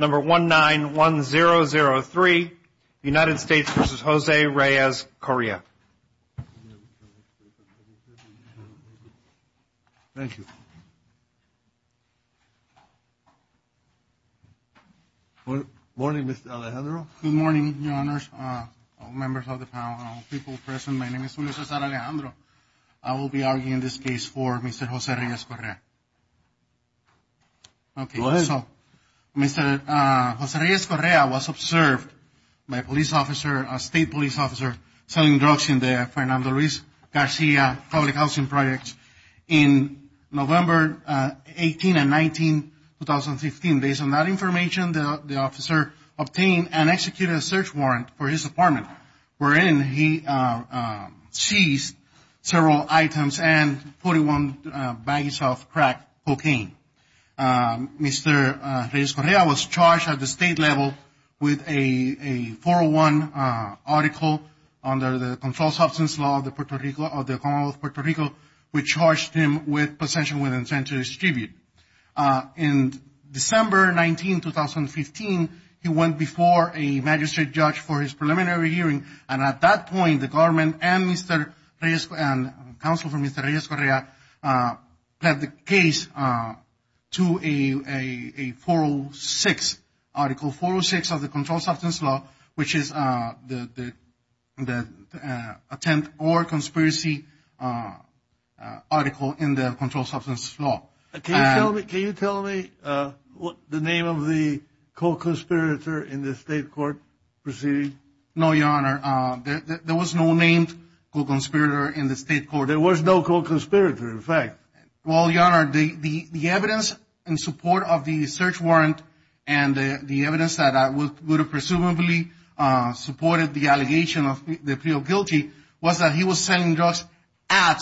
Number 1-9-1-0-0-3, United States v. Jose Reyes-Correa. Thank you. Good morning, Mr. Alejandro. Good morning, Your Honors, all members of the panel, all people present. My name is Julio Cesar Alejandro. I will be arguing in this case for Mr. Jose Reyes-Correa. Okay, so Mr. Jose Reyes-Correa was observed by a police officer, a state police officer, selling drugs in the Fernando Ruiz Garcia public housing project in November 18 and 19, 2015. Based on that information, the officer obtained and executed a search warrant for his apartment, wherein he seized several items and 41 bags of crack cocaine. Mr. Reyes-Correa was charged at the state level with a 401 article under the controlled substance law of the Puerto Rico, which charged him with possession with intent to distribute. In December 19, 2015, he went before a magistrate judge for his preliminary hearing, and at that point the government and Mr. Reyes-Correa and counsel for Mr. Reyes-Correa pled the case to a 406 article, 406 of the controlled substance law, which is the intent or conspiracy article in the controlled substance law. Can you tell me the name of the co-conspirator in the state court proceeding? No, Your Honor, there was no named co-conspirator in the state court. There was no co-conspirator, in fact. Well, Your Honor, the evidence in support of the search warrant and the evidence that would have presumably supported the allegation of the appeal guilty was that he was selling drugs at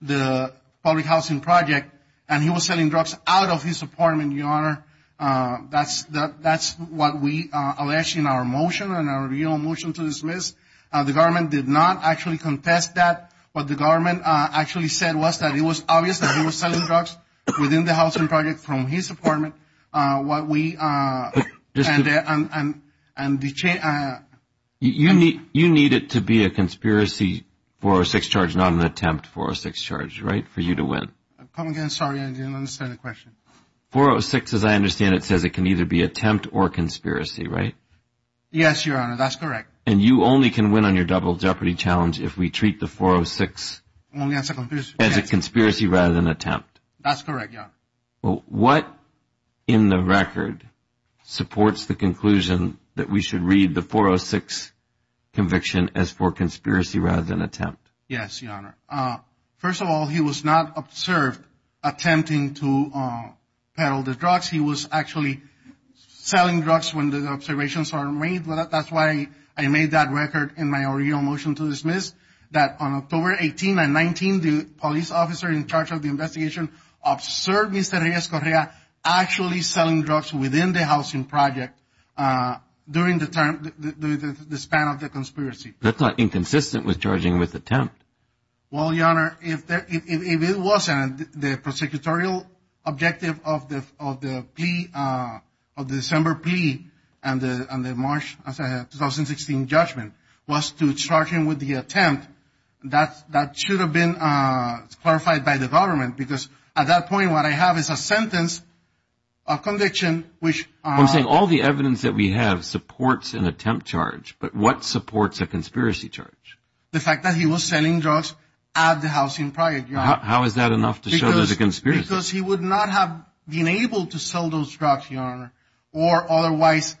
the public housing project, and he was selling drugs out of his apartment, Your Honor. That's what we allege in our motion and our real motion to dismiss. The government did not actually contest that. What the government actually said was that it was obvious that he was selling drugs within the housing project from his apartment. You need it to be a conspiracy 406 charge, not an attempt 406 charge, right, for you to win? I'm sorry, I didn't understand the question. 406, as I understand it, says it can either be attempt or conspiracy, right? Yes, Your Honor, that's correct. And you only can win on your double jeopardy challenge if we treat the 406 as a conspiracy rather than attempt. That's correct, Your Honor. Well, what in the record supports the conclusion that we should read the 406 conviction as for conspiracy rather than attempt? Yes, Your Honor. First of all, he was not observed attempting to peddle the drugs. He was actually selling drugs when the observations were made. That's why I made that record in my original motion to dismiss that on October 18 and 19, the police officer in charge of the investigation observed Mr. Reyes-Correa actually selling drugs within the housing project during the span of the conspiracy. That's not inconsistent with charging with attempt. Well, Your Honor, if it wasn't the prosecutorial objective of the plea, of the December plea and the March 2016 judgment was to charge him with the attempt, that should have been clarified by the government because at that point what I have is a sentence, a conviction which... I'm saying all the evidence that we have supports an attempt charge, but what supports a conspiracy charge? The fact that he was selling drugs at the housing project, Your Honor. How is that enough to show there's a conspiracy? Because he would not have been able to sell those drugs, Your Honor, or otherwise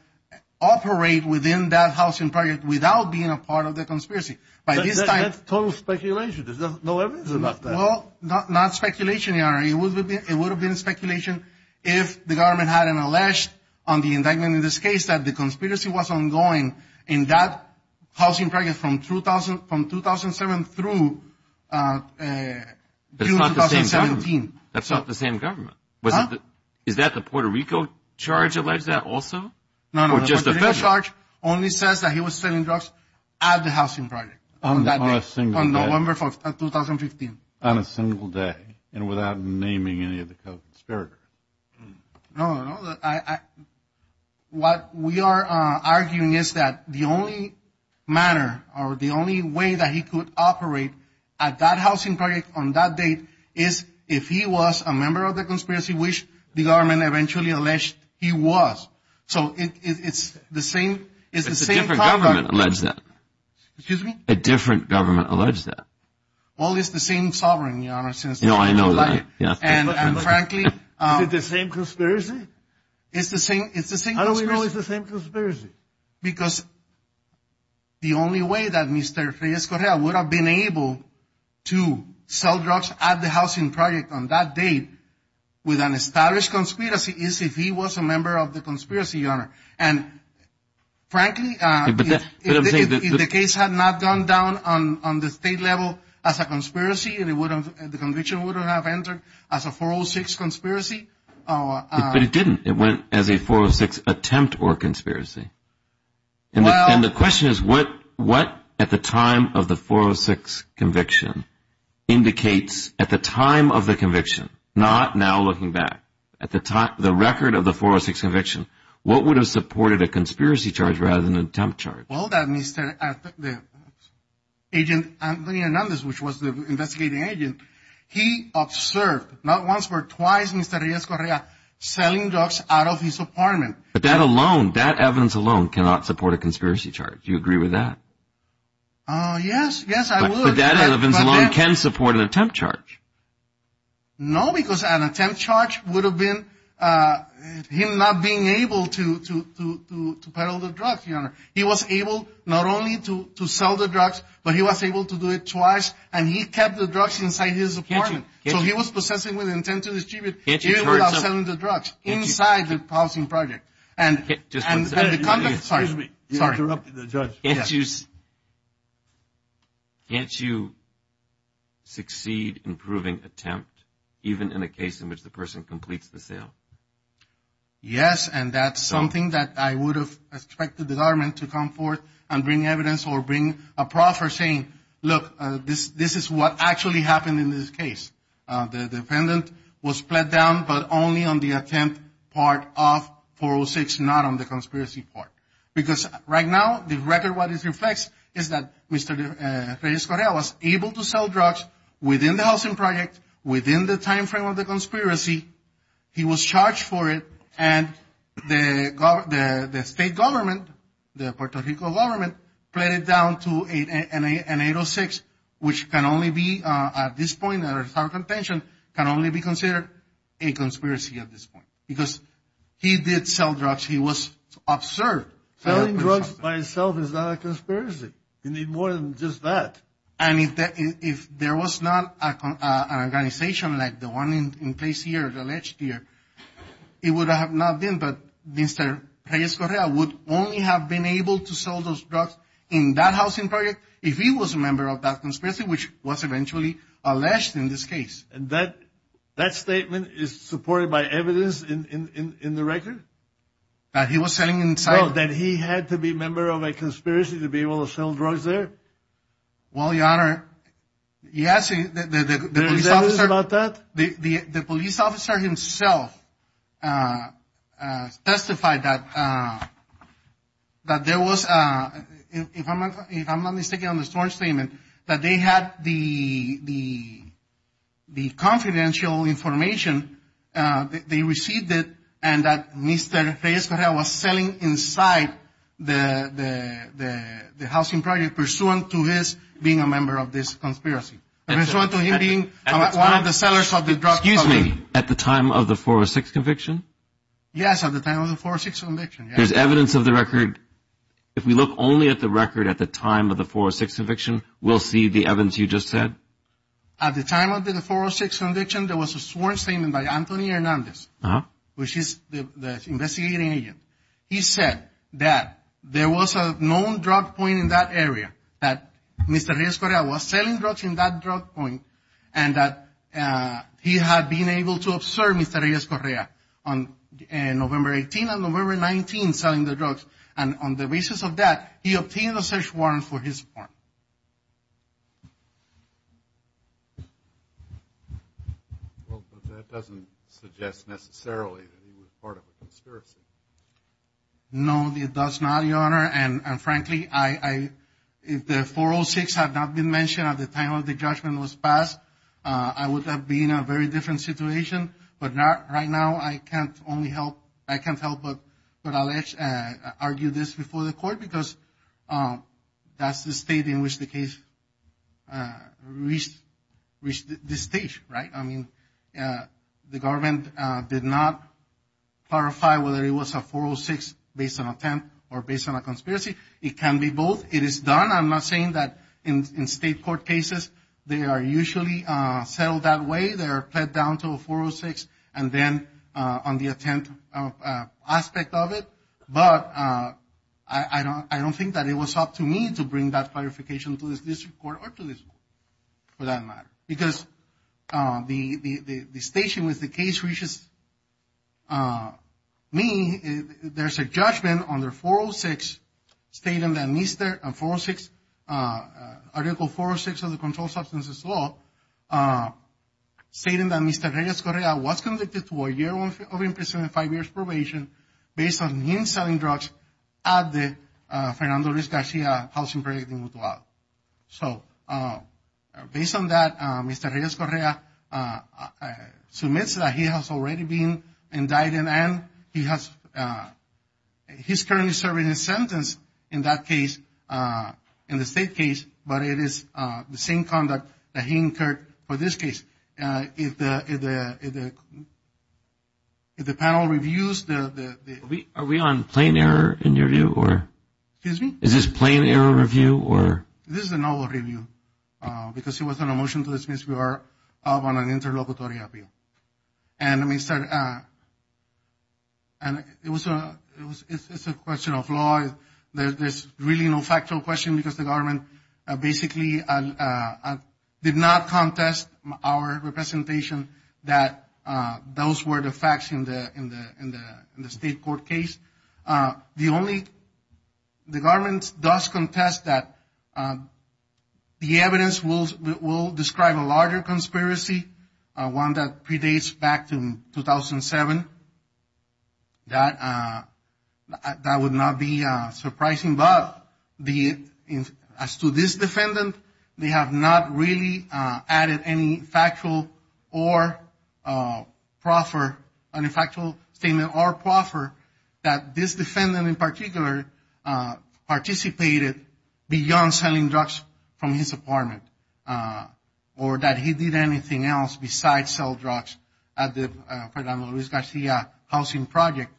operate within that housing project without being a part of the conspiracy. By this time... That's total speculation. There's no evidence about that. Well, not speculation, Your Honor. It would have been speculation if the government hadn't alleged on the indictment in this case that the conspiracy was ongoing in that housing project from 2007 through June 2017. That's not the same government. Huh? Is that the Puerto Rico charge allege that also? No, no, no. The Puerto Rico charge only says that he was selling drugs at the housing project on that day. On a single day. On November 4th of 2015. On a single day and without naming any of the co-conspirators. No, no, no. What we are arguing is that the only manner or the only way that he could operate at that housing project on that date is if he was a member of the conspiracy, which the government eventually alleged he was. So it's the same... But a different government alleged that. Excuse me? A different government alleged that. Well, it's the same sovereign, Your Honor, since... No, I know that. And frankly... Is it the same conspiracy? It's the same conspiracy. How do we know it's the same conspiracy? Because the only way that Mr. Reyes-Correa would have been able to sell drugs at the housing project on that date with an established conspiracy is if he was a member of the conspiracy, Your Honor. And frankly, if the case had not gone down on the state level as a conspiracy and the conviction would have entered as a 406 conspiracy... But it didn't. It went as a 406 attempt or conspiracy. And the question is what at the time of the 406 conviction indicates at the time of the conviction, not now looking back, at the record of the 406 conviction, what would have supported a conspiracy charge rather than an attempt charge? Well, that Mr. Agent Antonio Hernandez, which was the investigating agent, he observed not once but twice Mr. Reyes-Correa selling drugs out of his apartment. But that alone, that evidence alone cannot support a conspiracy charge. Do you agree with that? Yes, yes, I would. But that evidence alone can support an attempt charge. No, because an attempt charge would have been him not being able to peddle the drugs, Your Honor. He was able not only to sell the drugs, but he was able to do it twice, and he kept the drugs inside his apartment. So he was possessing with intent to distribute even without selling the drugs inside the housing project. And the conduct... Excuse me. You interrupted the judge. Can't you succeed in proving attempt even in a case in which the person completes the sale? Yes, and that's something that I would have expected the government to come forth and bring evidence or bring a proffer saying, look, this is what actually happened in this case. The defendant was pled down, but only on the attempt part of 406, not on the conspiracy part. Because right now, the record, what it reflects is that Mr. Reyes-Correa was able to sell drugs within the housing project, within the time frame of the conspiracy. He was charged for it, and the state government, the Puerto Rico government, pled it down to an 806, which can only be, at this point, under some contention can only be considered a conspiracy at this point. Because he did sell drugs. He was observed. Selling drugs by itself is not a conspiracy. You need more than just that. And if there was not an organization like the one in place here, alleged here, it would have not been, but Mr. Reyes-Correa would only have been able to sell those drugs in that housing project if he was a member of that conspiracy, which was eventually alleged in this case. And that statement is supported by evidence in the record? That he was selling inside? Well, that he had to be a member of a conspiracy to be able to sell drugs there? Well, Your Honor, yes. There is evidence about that? The police officer himself testified that there was, if I'm not mistaken, on the storage statement that they had the confidential information. They received it and that Mr. Reyes-Correa was selling inside the housing project pursuant to his being a member of this conspiracy, pursuant to him being one of the sellers of the drugs. Excuse me. At the time of the 406 conviction? Yes, at the time of the 406 conviction. There's evidence of the record. If we look only at the record at the time of the 406 conviction, we'll see the evidence you just said? At the time of the 406 conviction, there was a sworn statement by Anthony Hernandez, which is the investigating agent. He said that there was a known drug point in that area, that Mr. Reyes-Correa was selling drugs in that drug point, and that he had been able to observe Mr. Reyes-Correa on November 18th and November 19th selling the drugs. And on the basis of that, he obtained a search warrant for his farm. Well, but that doesn't suggest necessarily that he was part of a conspiracy. No, it does not, Your Honor. And frankly, if the 406 had not been mentioned at the time of the judgment was passed, I would have been in a very different situation. But right now, I can't only help, I can't help but argue this before the court because that's the state in which the case reached this stage, right? I mean, the government did not clarify whether it was a 406 based on attempt or based on a conspiracy. It can be both. It is done. I'm not saying that in state court cases, they are usually settled that way. They are played down to a 406 and then on the attempt aspect of it. But I don't think that it was up to me to bring that clarification to this district court or to this court, for that matter, because the station with the case reaches me. There's a judgment under 406 stating that Mr. and 406, Article 406 of the Controlled Substances Law, stating that Mr. Reyes-Correa was convicted to a year of imprisonment and five years probation based on him selling drugs at the Fernando Reyes Garcia Housing Project in Mutual. So based on that, Mr. Reyes-Correa submits that he has already been indicted and he's currently serving his sentence in that case, in the state case, but it is the same conduct that he incurred for this case. If the panel reviews the. Are we on plain error in your view or? Excuse me? Is this plain error review or? This is a null review because he was on a motion to dismiss. We are on an interlocutory appeal. And it's a question of law. There's really no factual question because the government basically did not contest our representation that those were the facts in the state court case. The government does contest that the evidence will describe a larger conspiracy, one that predates back to 2007. That would not be surprising. But as to this defendant, they have not really added any factual or proffer, any factual statement or proffer that this defendant in particular participated beyond selling drugs from his apartment or that he did anything else besides sell drugs at the Fernando Luis Garcia housing project.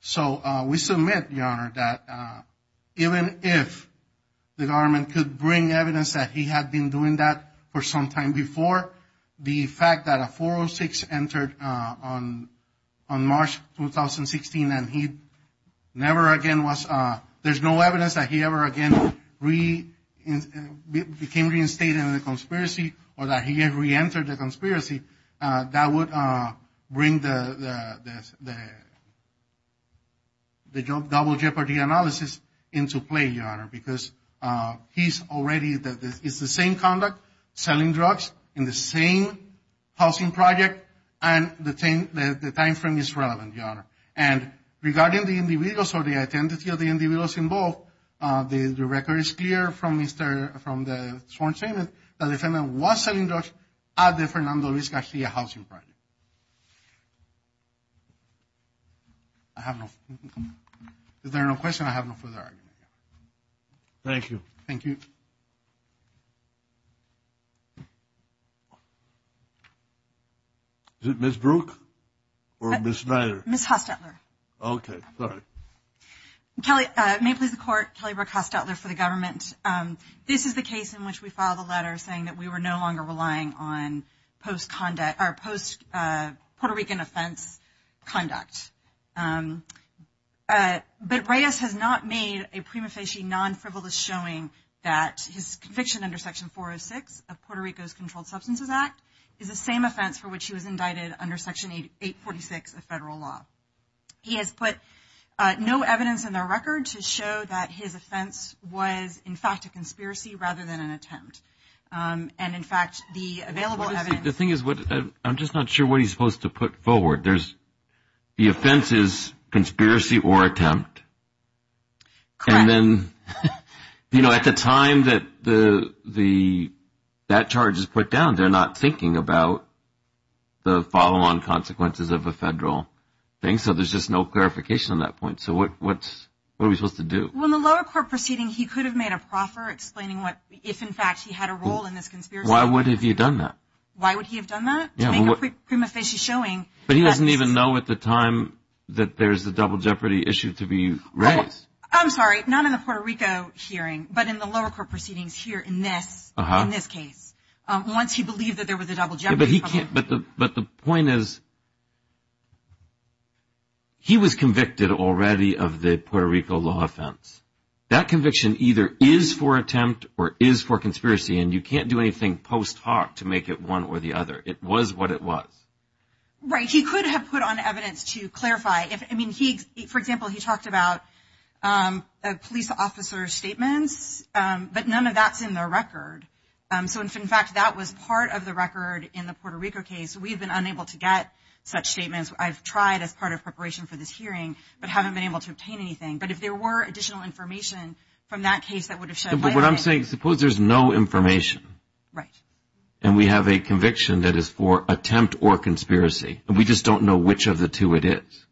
So we submit, Your Honor, that even if the government could bring evidence that he had been doing that for some time before, the fact that a 406 entered on March 2016 and he never again was, there's no evidence that he ever again became reinstated in the conspiracy or that he reentered the conspiracy, that would bring the double jeopardy analysis into play, Your Honor, because he's already, it's the same conduct, selling drugs in the same housing project, and the time frame is relevant, Your Honor. And regarding the individuals or the identity of the individuals involved, the record is clear from the sworn statement that the defendant was selling drugs at the Fernando Luis Garcia housing project. I have no, is there no question? I have no further argument. Thank you. Thank you. Is it Ms. Brooke or Ms. Snyder? Ms. Hostetler. Okay, sorry. May it please the Court, Kelly Brooke Hostetler for the government. This is the case in which we filed a letter saying that we were no longer relying on post conduct, or post Puerto Rican offense conduct. But Reyes has not made a prima facie non-frivolous showing that his conviction under Section 406 of Puerto Rico's Controlled Substances Act is the same offense for which he was indicted under Section 846 of federal law. He has put no evidence in the record to show that his offense was, in fact, a conspiracy rather than an attempt. And, in fact, the available evidence. The thing is, I'm just not sure what he's supposed to put forward. The offense is conspiracy or attempt. Correct. And then, you know, at the time that that charge is put down, they're not thinking about the follow-on consequences of a federal thing. So there's just no clarification on that point. So what are we supposed to do? Well, in the lower court proceeding, he could have made a proffer explaining if, in fact, he had a role in this conspiracy. Why would he have done that? Why would he have done that? To make a prima facie showing. But he doesn't even know at the time that there's a double jeopardy issue to be raised. I'm sorry, not in the Puerto Rico hearing, but in the lower court proceedings here in this case. Once he believed that there was a double jeopardy. But the point is, he was convicted already of the Puerto Rico law offense. That conviction either is for attempt or is for conspiracy, and you can't do anything post hoc to make it one or the other. It was what it was. Right. He could have put on evidence to clarify. I mean, for example, he talked about police officer statements, but none of that's in the record. So, in fact, that was part of the record in the Puerto Rico case. We've been unable to get such statements. I've tried as part of preparation for this hearing, but haven't been able to obtain anything. But if there were additional information from that case that would have shed light on it. But what I'm saying, suppose there's no information. Right. And we have a conviction that is for attempt or conspiracy. And we just don't know which of the two it is.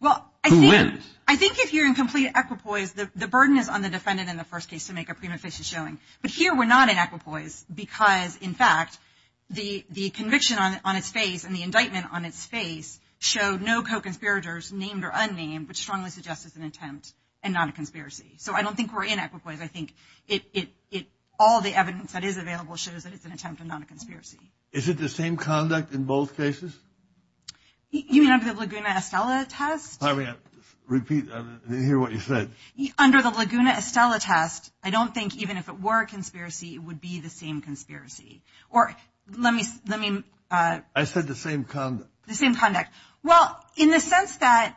Well, I think if you're in complete equipoise, the burden is on the defendant in the first case to make a prima facie showing. But here we're not in equipoise because, in fact, the conviction on its face and the indictment on its face show no co-conspirators named or unnamed, which strongly suggests it's an attempt and not a conspiracy. So I don't think we're in equipoise. I think all the evidence that is available shows that it's an attempt and not a conspiracy. Is it the same conduct in both cases? You mean under the Laguna Estella test? Repeat. I didn't hear what you said. Under the Laguna Estella test, I don't think, even if it were a conspiracy, it would be the same conspiracy. Or let me. I said the same conduct. The same conduct. Well, in the sense that,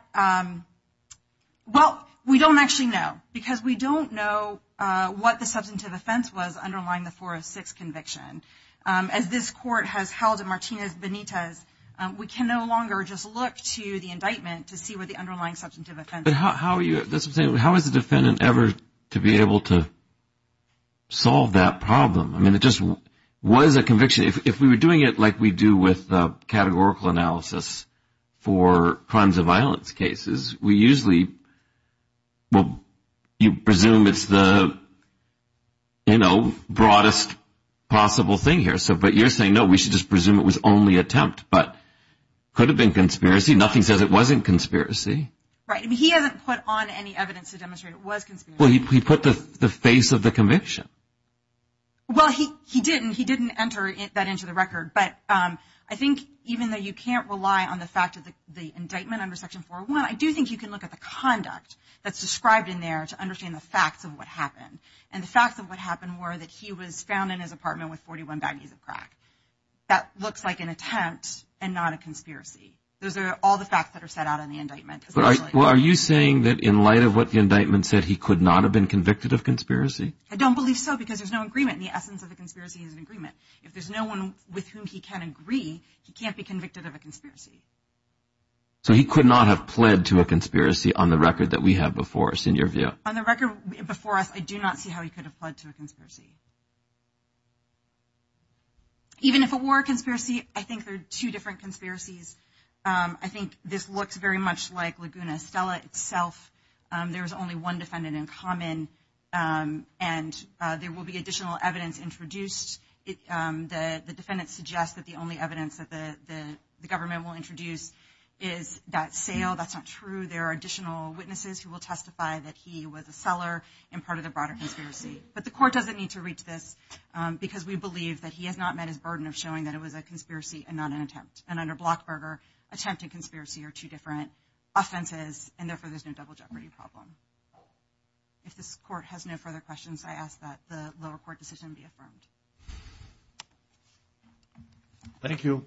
well, we don't actually know because we don't know what the substantive offense was underlying the 406 conviction. As this court has held in Martinez-Benitez, we can no longer just look to the indictment to see what the underlying substantive offense is. How is the defendant ever to be able to solve that problem? I mean, it just was a conviction. If we were doing it like we do with categorical analysis for crimes of violence cases, we usually, well, you presume it's the, you know, broadest possible thing here. But you're saying, no, we should just presume it was only attempt. But it could have been conspiracy. Nothing says it wasn't conspiracy. Right. I mean, he hasn't put on any evidence to demonstrate it was conspiracy. Well, he put the face of the conviction. Well, he didn't. He didn't enter that into the record. But I think even though you can't rely on the fact of the indictment under Section 401, I do think you can look at the conduct that's described in there to understand the facts of what happened. And the facts of what happened were that he was found in his apartment with 41 baggies of crack. That looks like an attempt and not a conspiracy. Those are all the facts that are set out in the indictment. Well, are you saying that in light of what the indictment said, he could not have been convicted of conspiracy? I don't believe so because there's no agreement. And the essence of the conspiracy is an agreement. If there's no one with whom he can agree, he can't be convicted of a conspiracy. So he could not have pled to a conspiracy on the record that we have before us in your view? On the record before us, I do not see how he could have pled to a conspiracy. Even if it were a conspiracy, I think there are two different conspiracies. I think this looks very much like Laguna Stella itself. There is only one defendant in common, and there will be additional evidence introduced. The defendant suggests that the only evidence that the government will introduce is that sale. That's not true. There are additional witnesses who will testify that he was a seller and part of the broader conspiracy. But the court doesn't need to read this because we believe that he has not met his burden of showing that it was a conspiracy and not an attempt. And under Blockberger, attempt and conspiracy are two different offenses, and therefore there's no double jeopardy problem. If this court has no further questions, I ask that the lower court decision be affirmed. Thank you.